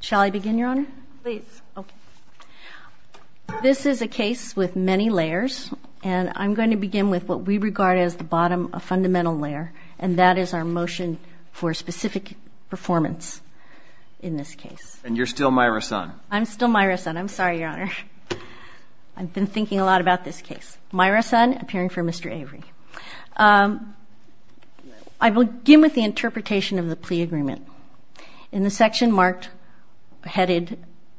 shall I begin your honor this is a case with many layers and I'm going to begin with what we regard as the bottom a fundamental layer and that is our motion for specific performance in this case and you're still my son I'm still my restaurant I'm sorry your honor I've been thinking a lot about this case my son appearing for mr. Avery I will give with the interpretation of the plea agreement in the section marked headed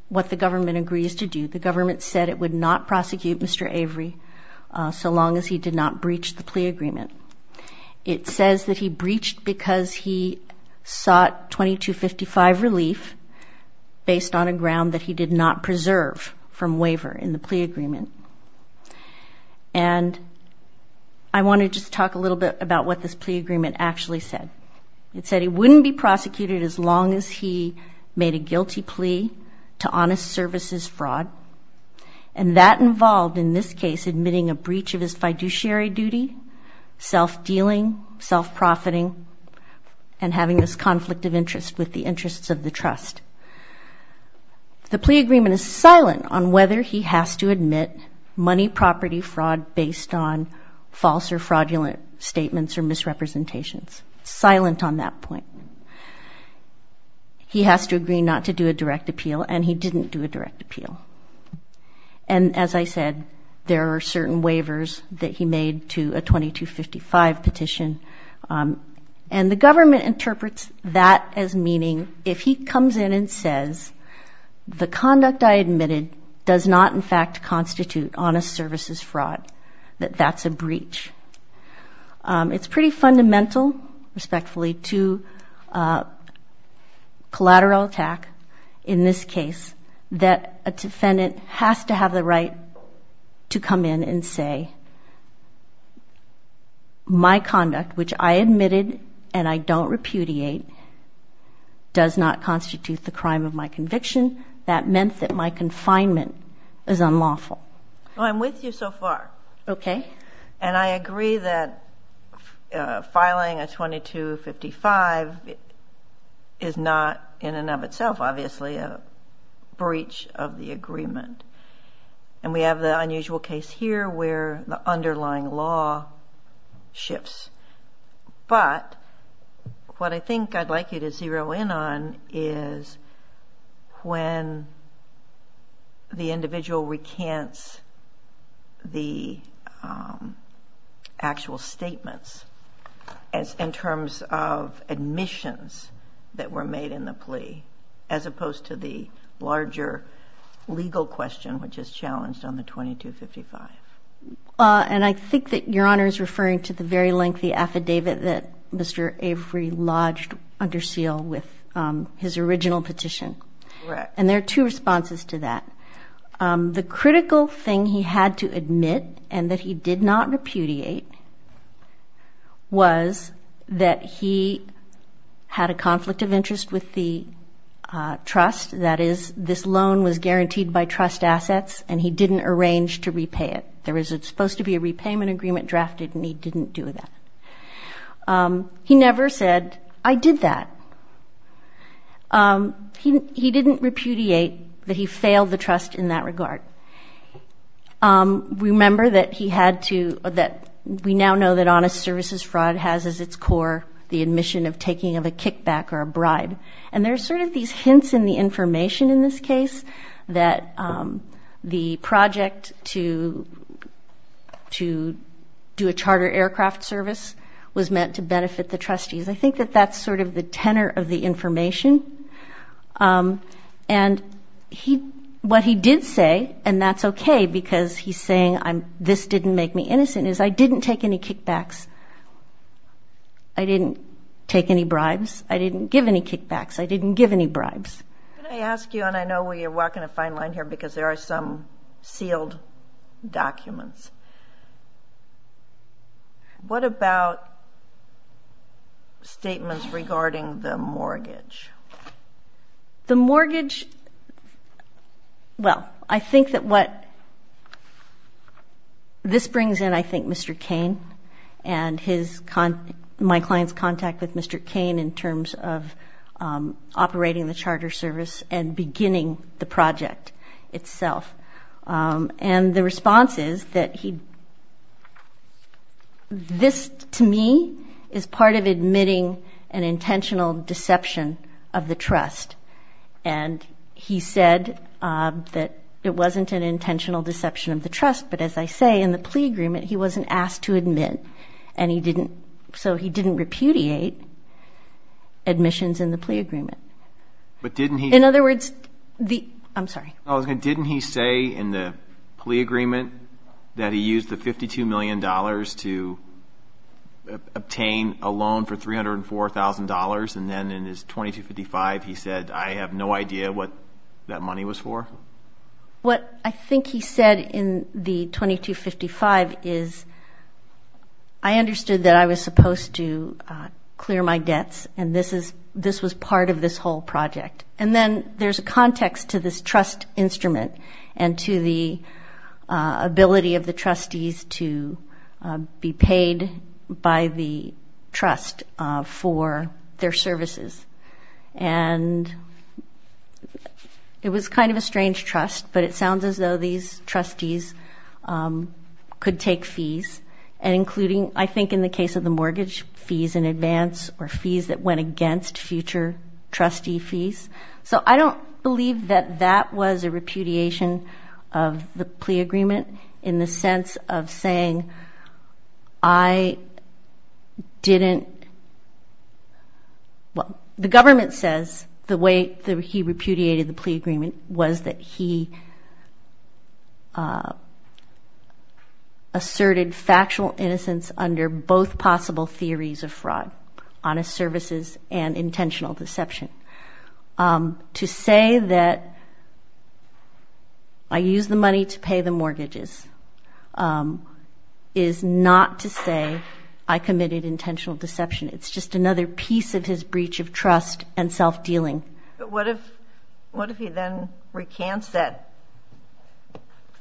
what the government agrees to do the government said it would not prosecute mr. Avery so long as he did not breach the plea agreement it says that he breached because he sought 2255 relief based on a ground that he did not preserve from waiver in the plea agreement and I want to just talk a little bit about what this plea agreement actually said it said he wouldn't be prosecuted as long as he made a guilty plea to honest services fraud and that involved in this case admitting a breach of his fiduciary duty self-dealing self-profiting and having this conflict of interest with the interests of the trust the plea agreement is silent on whether he has to admit money property fraud based on fraudulent statements or misrepresentations silent on that point he has to agree not to do a direct appeal and he didn't do a direct appeal and as I said there are certain waivers that he made to a 2255 petition and the government interprets that as meaning if he comes in and says the conduct I admitted does not in fact constitute honest services fraud that that's a breach it's pretty fundamental respectfully to collateral attack in this case that a defendant has to have the right to come in and say my conduct which I admitted and I don't repudiate does not constitute the crime of my conviction that meant that my confinement is unlawful I'm with you so far okay and I agree that filing a 2255 is not in and of itself obviously a breach of the agreement and we have the unusual case here where the underlying law shifts but what I think I'd like you to zero in on is when the individual recants the actual statements as in terms of admissions that were made in the plea as opposed to the larger legal question which is challenged on the 2255 and I think that your honor is referring to the very lengthy affidavit that mr. Avery lodged under seal with his original petition and there are two responses to that the critical thing he had to admit and that he did not repudiate was that he had a conflict of interest with the trust that is this loan was guaranteed by trust assets and he didn't arrange to repay it there was it supposed to be a repayment agreement drafted and he didn't do that he never said I did that he didn't repudiate that he failed the trust in that regard remember that he had to that we now know that honest services fraud has as its core the admission of taking of a kickback or a bribe and there's sort of these hints in the information in this case that the project to to do a I think that that's sort of the tenor of the information and he what he did say and that's okay because he's saying I'm this didn't make me innocent is I didn't take any kickbacks I didn't take any bribes I didn't give any kickbacks I didn't give any bribes I ask you and I know where you're walking a fine line here because there are some sealed documents what about statements regarding the mortgage the mortgage well I think that what this brings in I think mr. Kane and his con my clients contact with mr. Kane in terms of operating the project itself and the response is that he this to me is part of admitting an intentional deception of the trust and he said that it wasn't an intentional deception of the trust but as I say in the plea agreement he wasn't asked to admit and he didn't so he didn't repudiate admissions in the plea agreement but didn't he in other words the I'm sorry I was gonna didn't he say in the plea agreement that he used the 52 million dollars to obtain a loan for three hundred and four thousand dollars and then in his 2255 he said I have no idea what that money was for what I think he said in the 2255 is I and then there's a context to this trust instrument and to the ability of the trustees to be paid by the trust for their services and it was kind of a strange trust but it sounds as though these trustees could take fees and including I think in the case of the mortgage fees in advance or fees that against future trustee fees so I don't believe that that was a repudiation of the plea agreement in the sense of saying I didn't well the government says the way that he repudiated the plea agreement was that he asserted factual innocence under both possible theories of fraud honest services and intentional deception to say that I use the money to pay the mortgages is not to say I committed intentional deception it's just another piece of his breach of trust and self-dealing what if what if he then recants that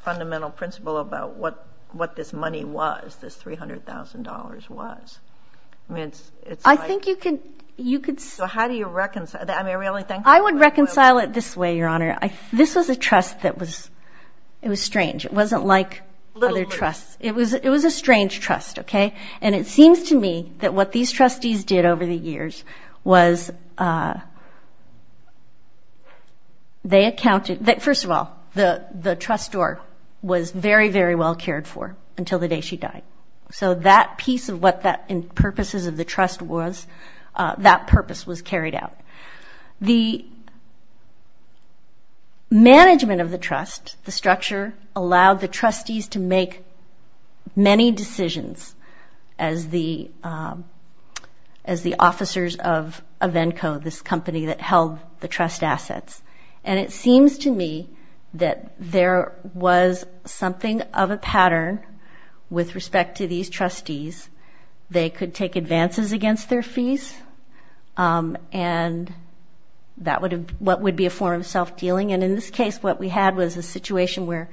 fundamental principle about what what this money was this $300,000 was it's I think you can you could so how do you reconcile that I mean I would reconcile it this way your honor I this was a trust that was it was strange it wasn't like other trusts it was it was a strange trust okay and it seems to me that what these trustees did over the years was they accounted that first of all the the store was very very well cared for until the day she died so that piece of what that in purposes of the trust was that purpose was carried out the management of the trust the structure allowed the trustees to make many decisions as the as the officers of event code this company that held the trust assets and it seems to me that there was something of a pattern with respect to these trustees they could take advances against their fees and that would have what would be a form of self-dealing and in this case what we had was a situation where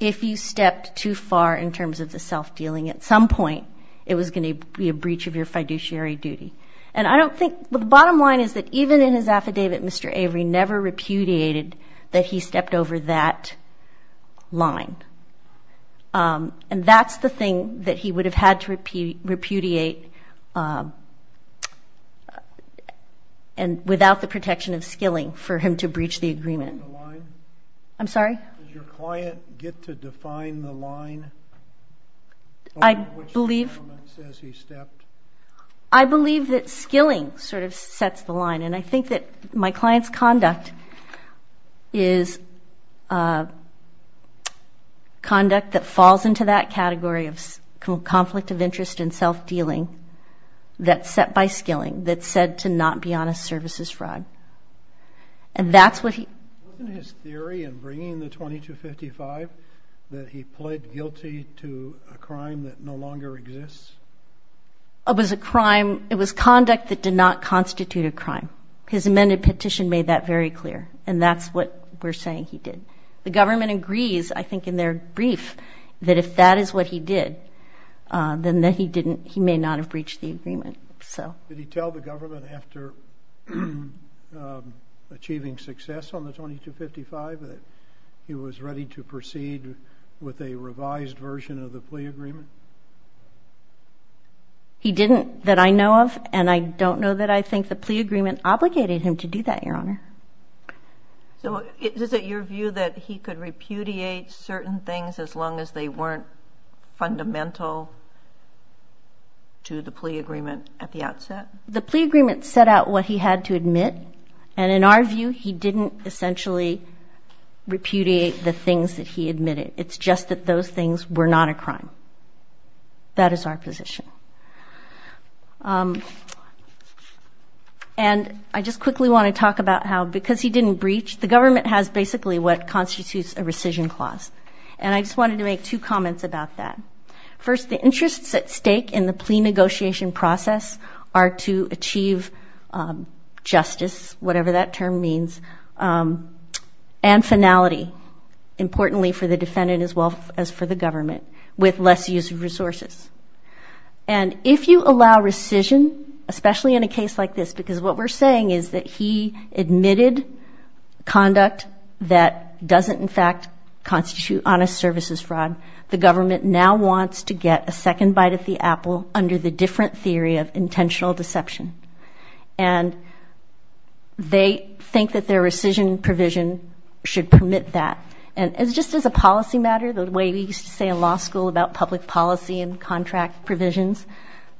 if you stepped too far in terms of the self-dealing at some point it was going to be a breach of your fiduciary duty and I don't think the bottom line is that even in his affidavit mr. Avery never repudiated that he stepped over that line and that's the thing that he would have had to repeat repudiate and without the protection of skilling for him to breach the agreement I'm sorry your client get to define the line I believe I believe that skilling sort of sets the line and I think that my clients conduct is conduct that falls into that category of conflict of interest in self-dealing that set by skilling that said to not be honest services fraud and that's what he theory and bringing the 2255 that he pled guilty to a crime that no longer exists I was a crime it was conduct that did not constitute a crime his amended petition made that very clear and that's what we're saying he did the government agrees I think in their brief that if that is what he did then that he didn't he may not have breached the agreement so did he tell the government after achieving success on the 2255 that he was ready to proceed with a revised version of the plea agreement he didn't that I know of and I don't know that I think the plea agreement obligated him to do that your honor so it is it your view that he could repudiate certain things as long as they weren't fundamental to the plea agreement at the outset the plea agreement set out what he had to admit and in our view he didn't essentially repudiate the things that he admitted it's just that those things were not a crime that is our position and I just quickly want to talk about how because he didn't breach the government has basically what constitutes a rescission clause and I just wanted to make two comments about that first the interests at stake in the plea negotiation process are to achieve justice whatever that term means and finality importantly for the defendant as well as for the government with less use of resources and if you allow rescission especially in a case like this because what we're saying is that he admitted conduct that doesn't in fact constitute honest services fraud the government now wants to get a second bite at the apple under the different theory of intentional deception and they think that their rescission provision should permit that and it's just as a policy matter the way we used to say in law school about public policy and contract provisions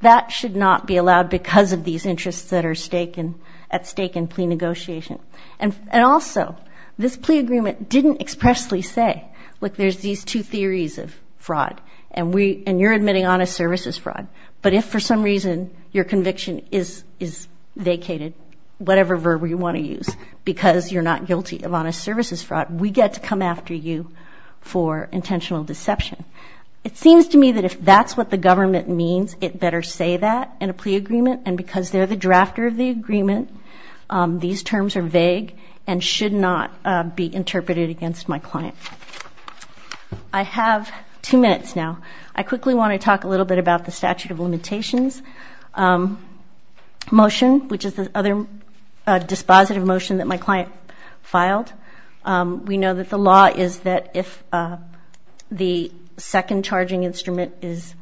that should not be allowed because of these interests that are staking at stake in plea negotiation and and also this plea agreement didn't expressly say look there's these two theories of fraud and we and you're admitting honest services fraud but if for some reason your conviction is is vacated whatever verb you want to use because you're not guilty of honest services fraud we get to come after you for intentional deception it seems to me that if that's what the government means it better say that in a plea agreement and because they're the drafter of the agreement these terms are vague and should not be interpreted against my client I have two minutes now I quickly want to talk a little bit about the statute of limitations motion which is the other dispositive motion that my client filed we know that the law is that if the second charging instrument is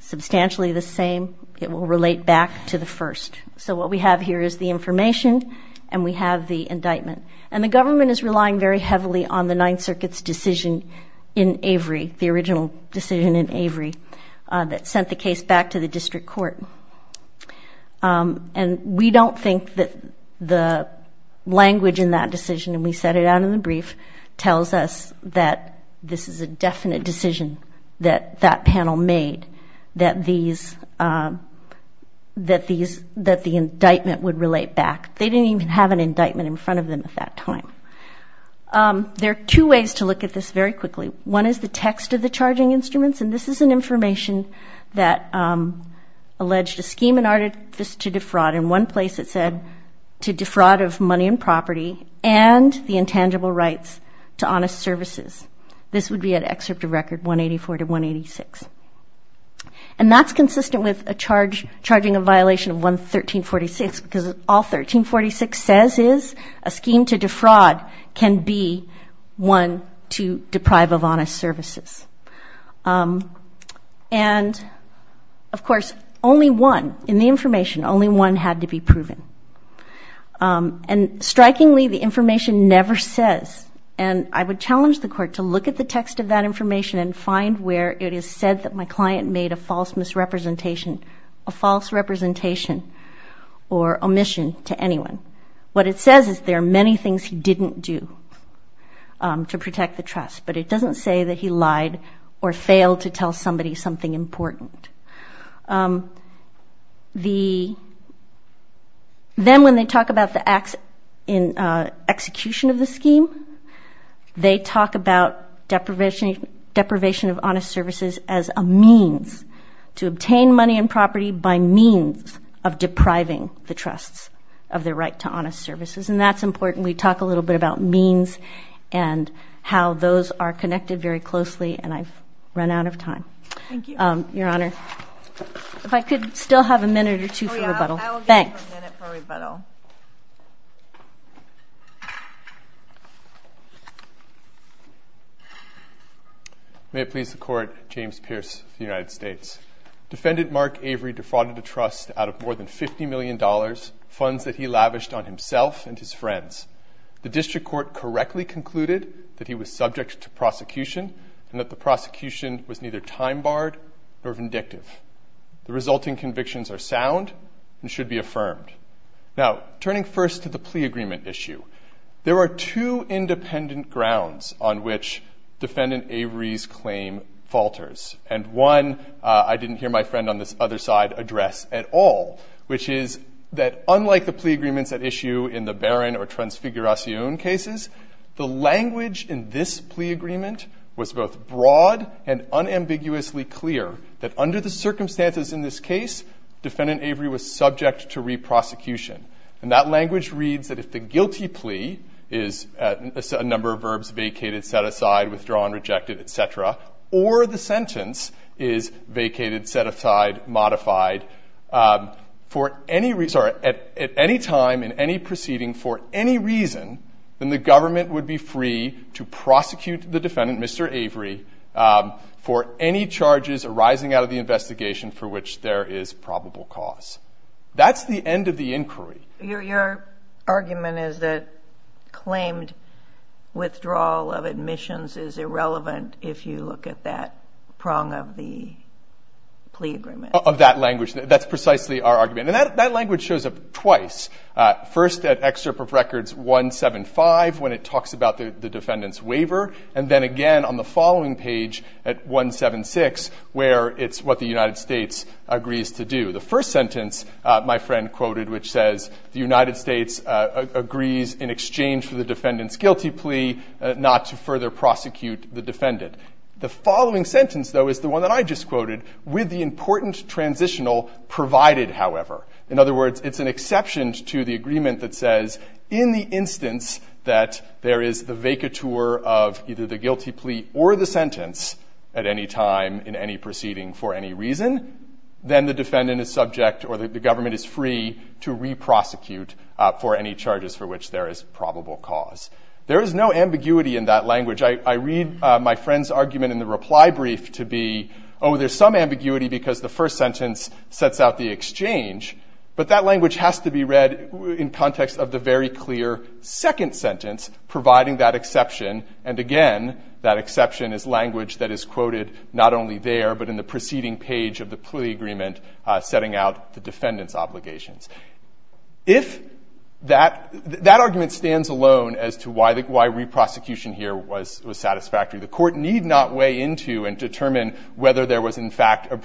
substantially the same it will relate back to the first so what we have here is the information and we have the indictment and the government is relying very heavily on the Ninth Circuit's decision in Avery the original decision in Avery that sent the case back to the district court and we don't think that the language in that decision and we set it out in the brief tells us that this is a definite decision that that panel made that these that these that the indictment would relate back they didn't even have an indictment in front of them at that time there are two ways to look at this very quickly one is the text of the charging instruments and this is an information that alleged a scheme and artifice to defraud in one place it said to defraud of money and property and the intangible rights to honest services this would be an excerpt of record 184 to 186 and that's consistent with a charge charging a violation of one 1346 because all 1346 says is a scheme to deprive of honest services and of course only one in the information only one had to be proven and strikingly the information never says and I would challenge the court to look at the text of that information and find where it is said that my client made a false misrepresentation a false representation or omission to anyone what it says is there are many things he didn't do to protect the trust but it doesn't say that he lied or failed to tell somebody something important the then when they talk about the acts in execution of the scheme they talk about deprivation deprivation of honest services as a means to obtain money and property by means of depriving the trusts of their right to honest services and that's important we talk a little bit about means and how those are connected very closely and I've run out of time your honor if I could still have a minute or two for rebuttal may it please the court James Pierce of the United States defendant Mark Avery defrauded a trust out of more than 50 million dollars funds that he lavished on himself and his friends the district court correctly concluded that he was subject to prosecution and that the prosecution was neither time-barred or vindictive the resulting convictions are sound and should be affirmed now turning first to the plea agreement issue there are two independent grounds on which defendant Avery's claim falters and one I didn't hear my friend on this other address at all which is that unlike the plea agreements at issue in the barren or transfiguration cases the language in this plea agreement was both broad and unambiguously clear that under the circumstances in this case defendant Avery was subject to reprosecution and that language reads that if the guilty plea is a number of verbs vacated set aside withdrawn rejected etc or the for any reason at any time in any proceeding for any reason in the government would be free to prosecute the defendant Mr. Avery for any charges arising out of the investigation for which there is probable cause that's the end of the inquiry your argument is that claimed withdrawal of admissions is that's precisely our argument and that that language shows up twice first at excerpt of records 175 when it talks about the defendant's waiver and then again on the following page at 176 where it's what the United States agrees to do the first sentence my friend quoted which says the United States agrees in exchange for the defendant's guilty plea not to further prosecute the defendant the following sentence though is the one that I just quoted with the important transitional provided however in other words it's an exception to the agreement that says in the instance that there is the vaca tour of either the guilty plea or the sentence at any time in any proceeding for any reason then the defendant is subject or that the government is free to reprosecute for any charges for which there is probable cause there is no ambiguity in that language I read my friend's argument in the reply brief to be oh there's some sentence sets out the exchange but that language has to be read in context of the very clear second sentence providing that exception and again that exception is language that is quoted not only there but in the preceding page of the plea agreement setting out the defendants obligations if that that argument stands alone as to why the why reprosecution here was was satisfactory the court need not weigh into and determine whether there was in fact a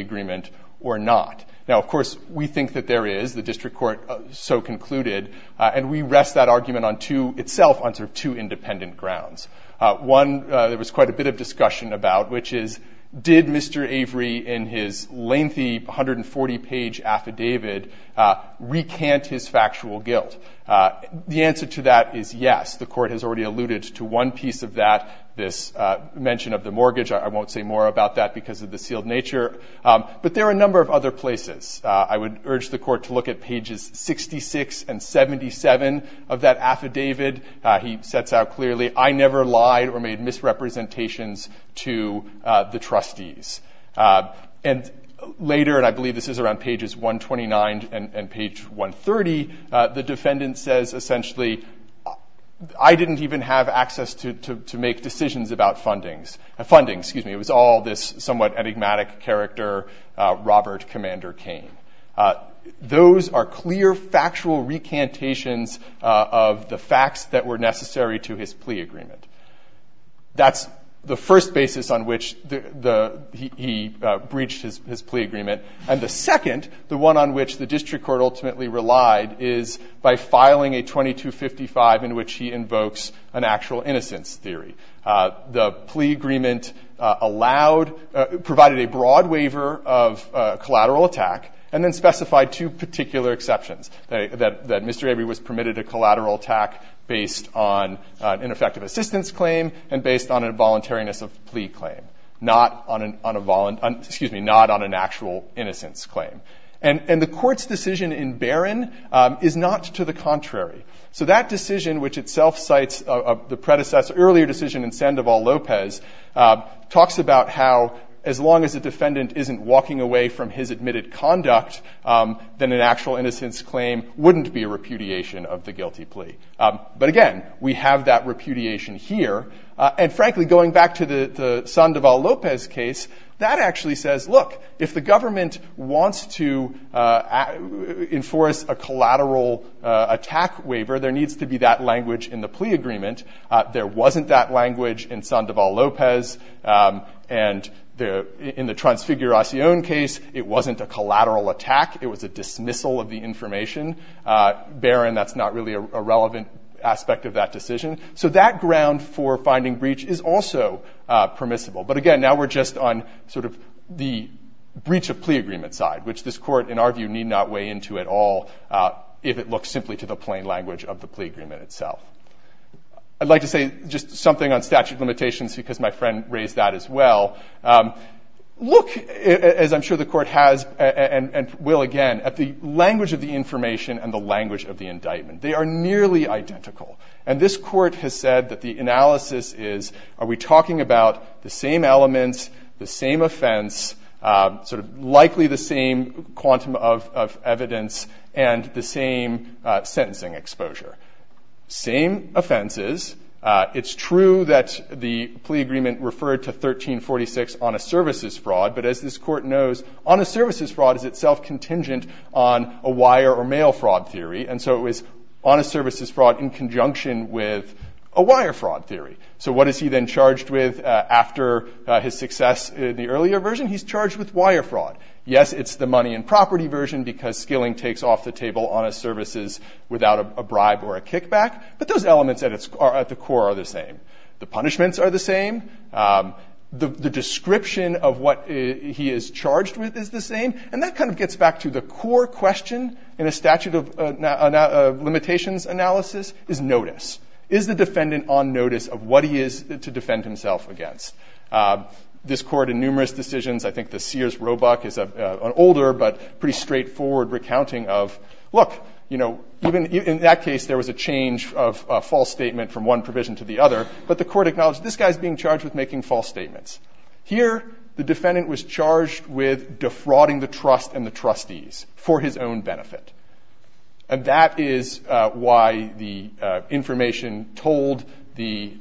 agreement or not now of course we think that there is the district court so concluded and we rest that argument on to itself on sort of two independent grounds one there was quite a bit of discussion about which is did mr. Avery in his lengthy 140 page affidavit recant his factual guilt the answer to that is yes the court has already alluded to one piece of that this mention of the but there are a number of other places I would urge the court to look at pages 66 and 77 of that affidavit he sets out clearly I never lied or made misrepresentations to the trustees and later and I believe this is around pages 129 and page 130 the defendant says essentially I didn't even have access to make decisions about fundings a funding excuse me it was all this somewhat enigmatic character Robert Commander Kane those are clear factual recantations of the facts that were necessary to his plea agreement that's the first basis on which the he breached his plea agreement and the second the one on which the district court ultimately relied is by filing a 2255 in which he invokes an broad waiver of collateral attack and then specified two particular exceptions that mr. Avery was permitted a collateral attack based on an effective assistance claim and based on a voluntariness of plea claim not on an on a volunt excuse me not on an actual innocence claim and and the court's decision in Baron is not to the contrary so that decision which itself cites of the predecessor earlier decision in Sandoval Lopez talks about how as long as the defendant isn't walking away from his admitted conduct than an actual innocence claim wouldn't be a repudiation of the guilty plea but again we have that repudiation here and frankly going back to the Sandoval Lopez case that actually says look if the government wants to enforce a collateral attack waiver there needs to be that language in the plea agreement there wasn't that language in Sandoval Lopez and there in the transfiguration case it wasn't a collateral attack it was a dismissal of the information Baron that's not really a relevant aspect of that decision so that ground for finding breach is also permissible but again now we're just on sort of the breach of plea agreement side which this court in our view need not weigh into at all if it I'd like to say just something on statute limitations because my friend raised that as well look as I'm sure the court has and will again at the language of the information and the language of the indictment they are nearly identical and this court has said that the analysis is are we talking about the same elements the same offense sort of likely the same quantum of evidence and the same sentencing exposure same offenses it's true that the plea agreement referred to 1346 on a services fraud but as this court knows on a services fraud is itself contingent on a wire or mail fraud theory and so it was on a services fraud in conjunction with a wire fraud theory so what is he then charged with after his success in the earlier version he's charged with wire fraud yes it's the money and property version because skilling takes off the services without a bribe or a kickback but those elements that it's are at the core are the same the punishments are the same the description of what he is charged with is the same and that kind of gets back to the core question in a statute of limitations analysis is notice is the defendant on notice of what he is to defend himself against this court in numerous decisions I think the Sears Roebuck is a older but pretty straightforward recounting of look you know even in that case there was a change of false statement from one provision to the other but the court acknowledged this guy's being charged with making false statements here the defendant was charged with defrauding the trust and the trustees for his own benefit and that is why the information told the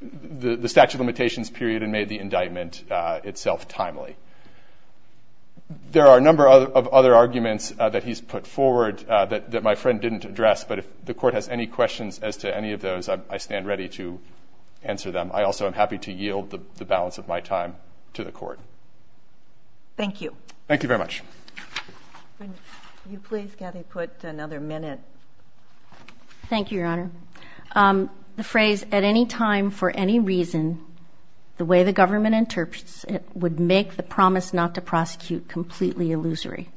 the statute of limitations period and made the indictment itself timely there are a number of other arguments that he's put forward that my friend didn't address but if the court has any questions as to any of those I stand ready to answer them I also am happy to yield the balance of my time to the court thank you thank you very much thank you your honor the phrase at any time for any reason the way the defense is going to make the promise not to prosecute completely illusory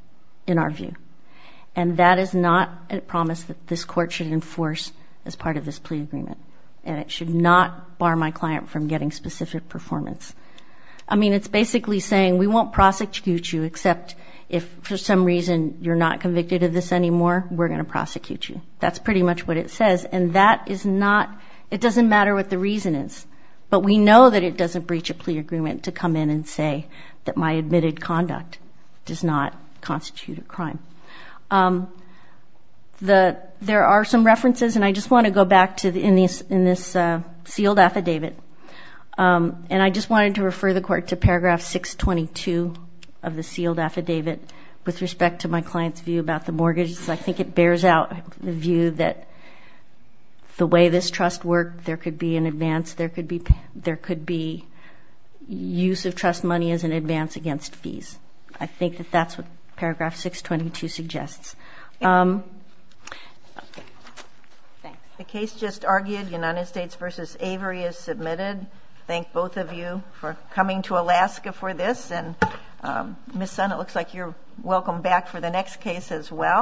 in our view and that is not a promise that this court should enforce as part of this plea agreement and it should not bar my client from getting specific performance I mean it's basically saying we won't prosecute you except if for some reason you're not convicted of this anymore we're going to prosecute you that's pretty much what it says and that is not it doesn't matter what the reason is but we know that it doesn't breach a plea agreement to come in and say that my admitted conduct does not constitute a crime the there are some references and I just want to go back to the in these in this sealed affidavit and I just wanted to refer the court to paragraph 622 of the sealed affidavit with respect to my clients view about the mortgage I think it bears out the that the way this trust work there could be an advance there could be there could be use of trust money as an advance against fees I think that that's what paragraph 622 suggests the case just argued United States versus Avery is submitted thank both of you for coming to Alaska for this and miss son it looks like you're welcome back for the next case as well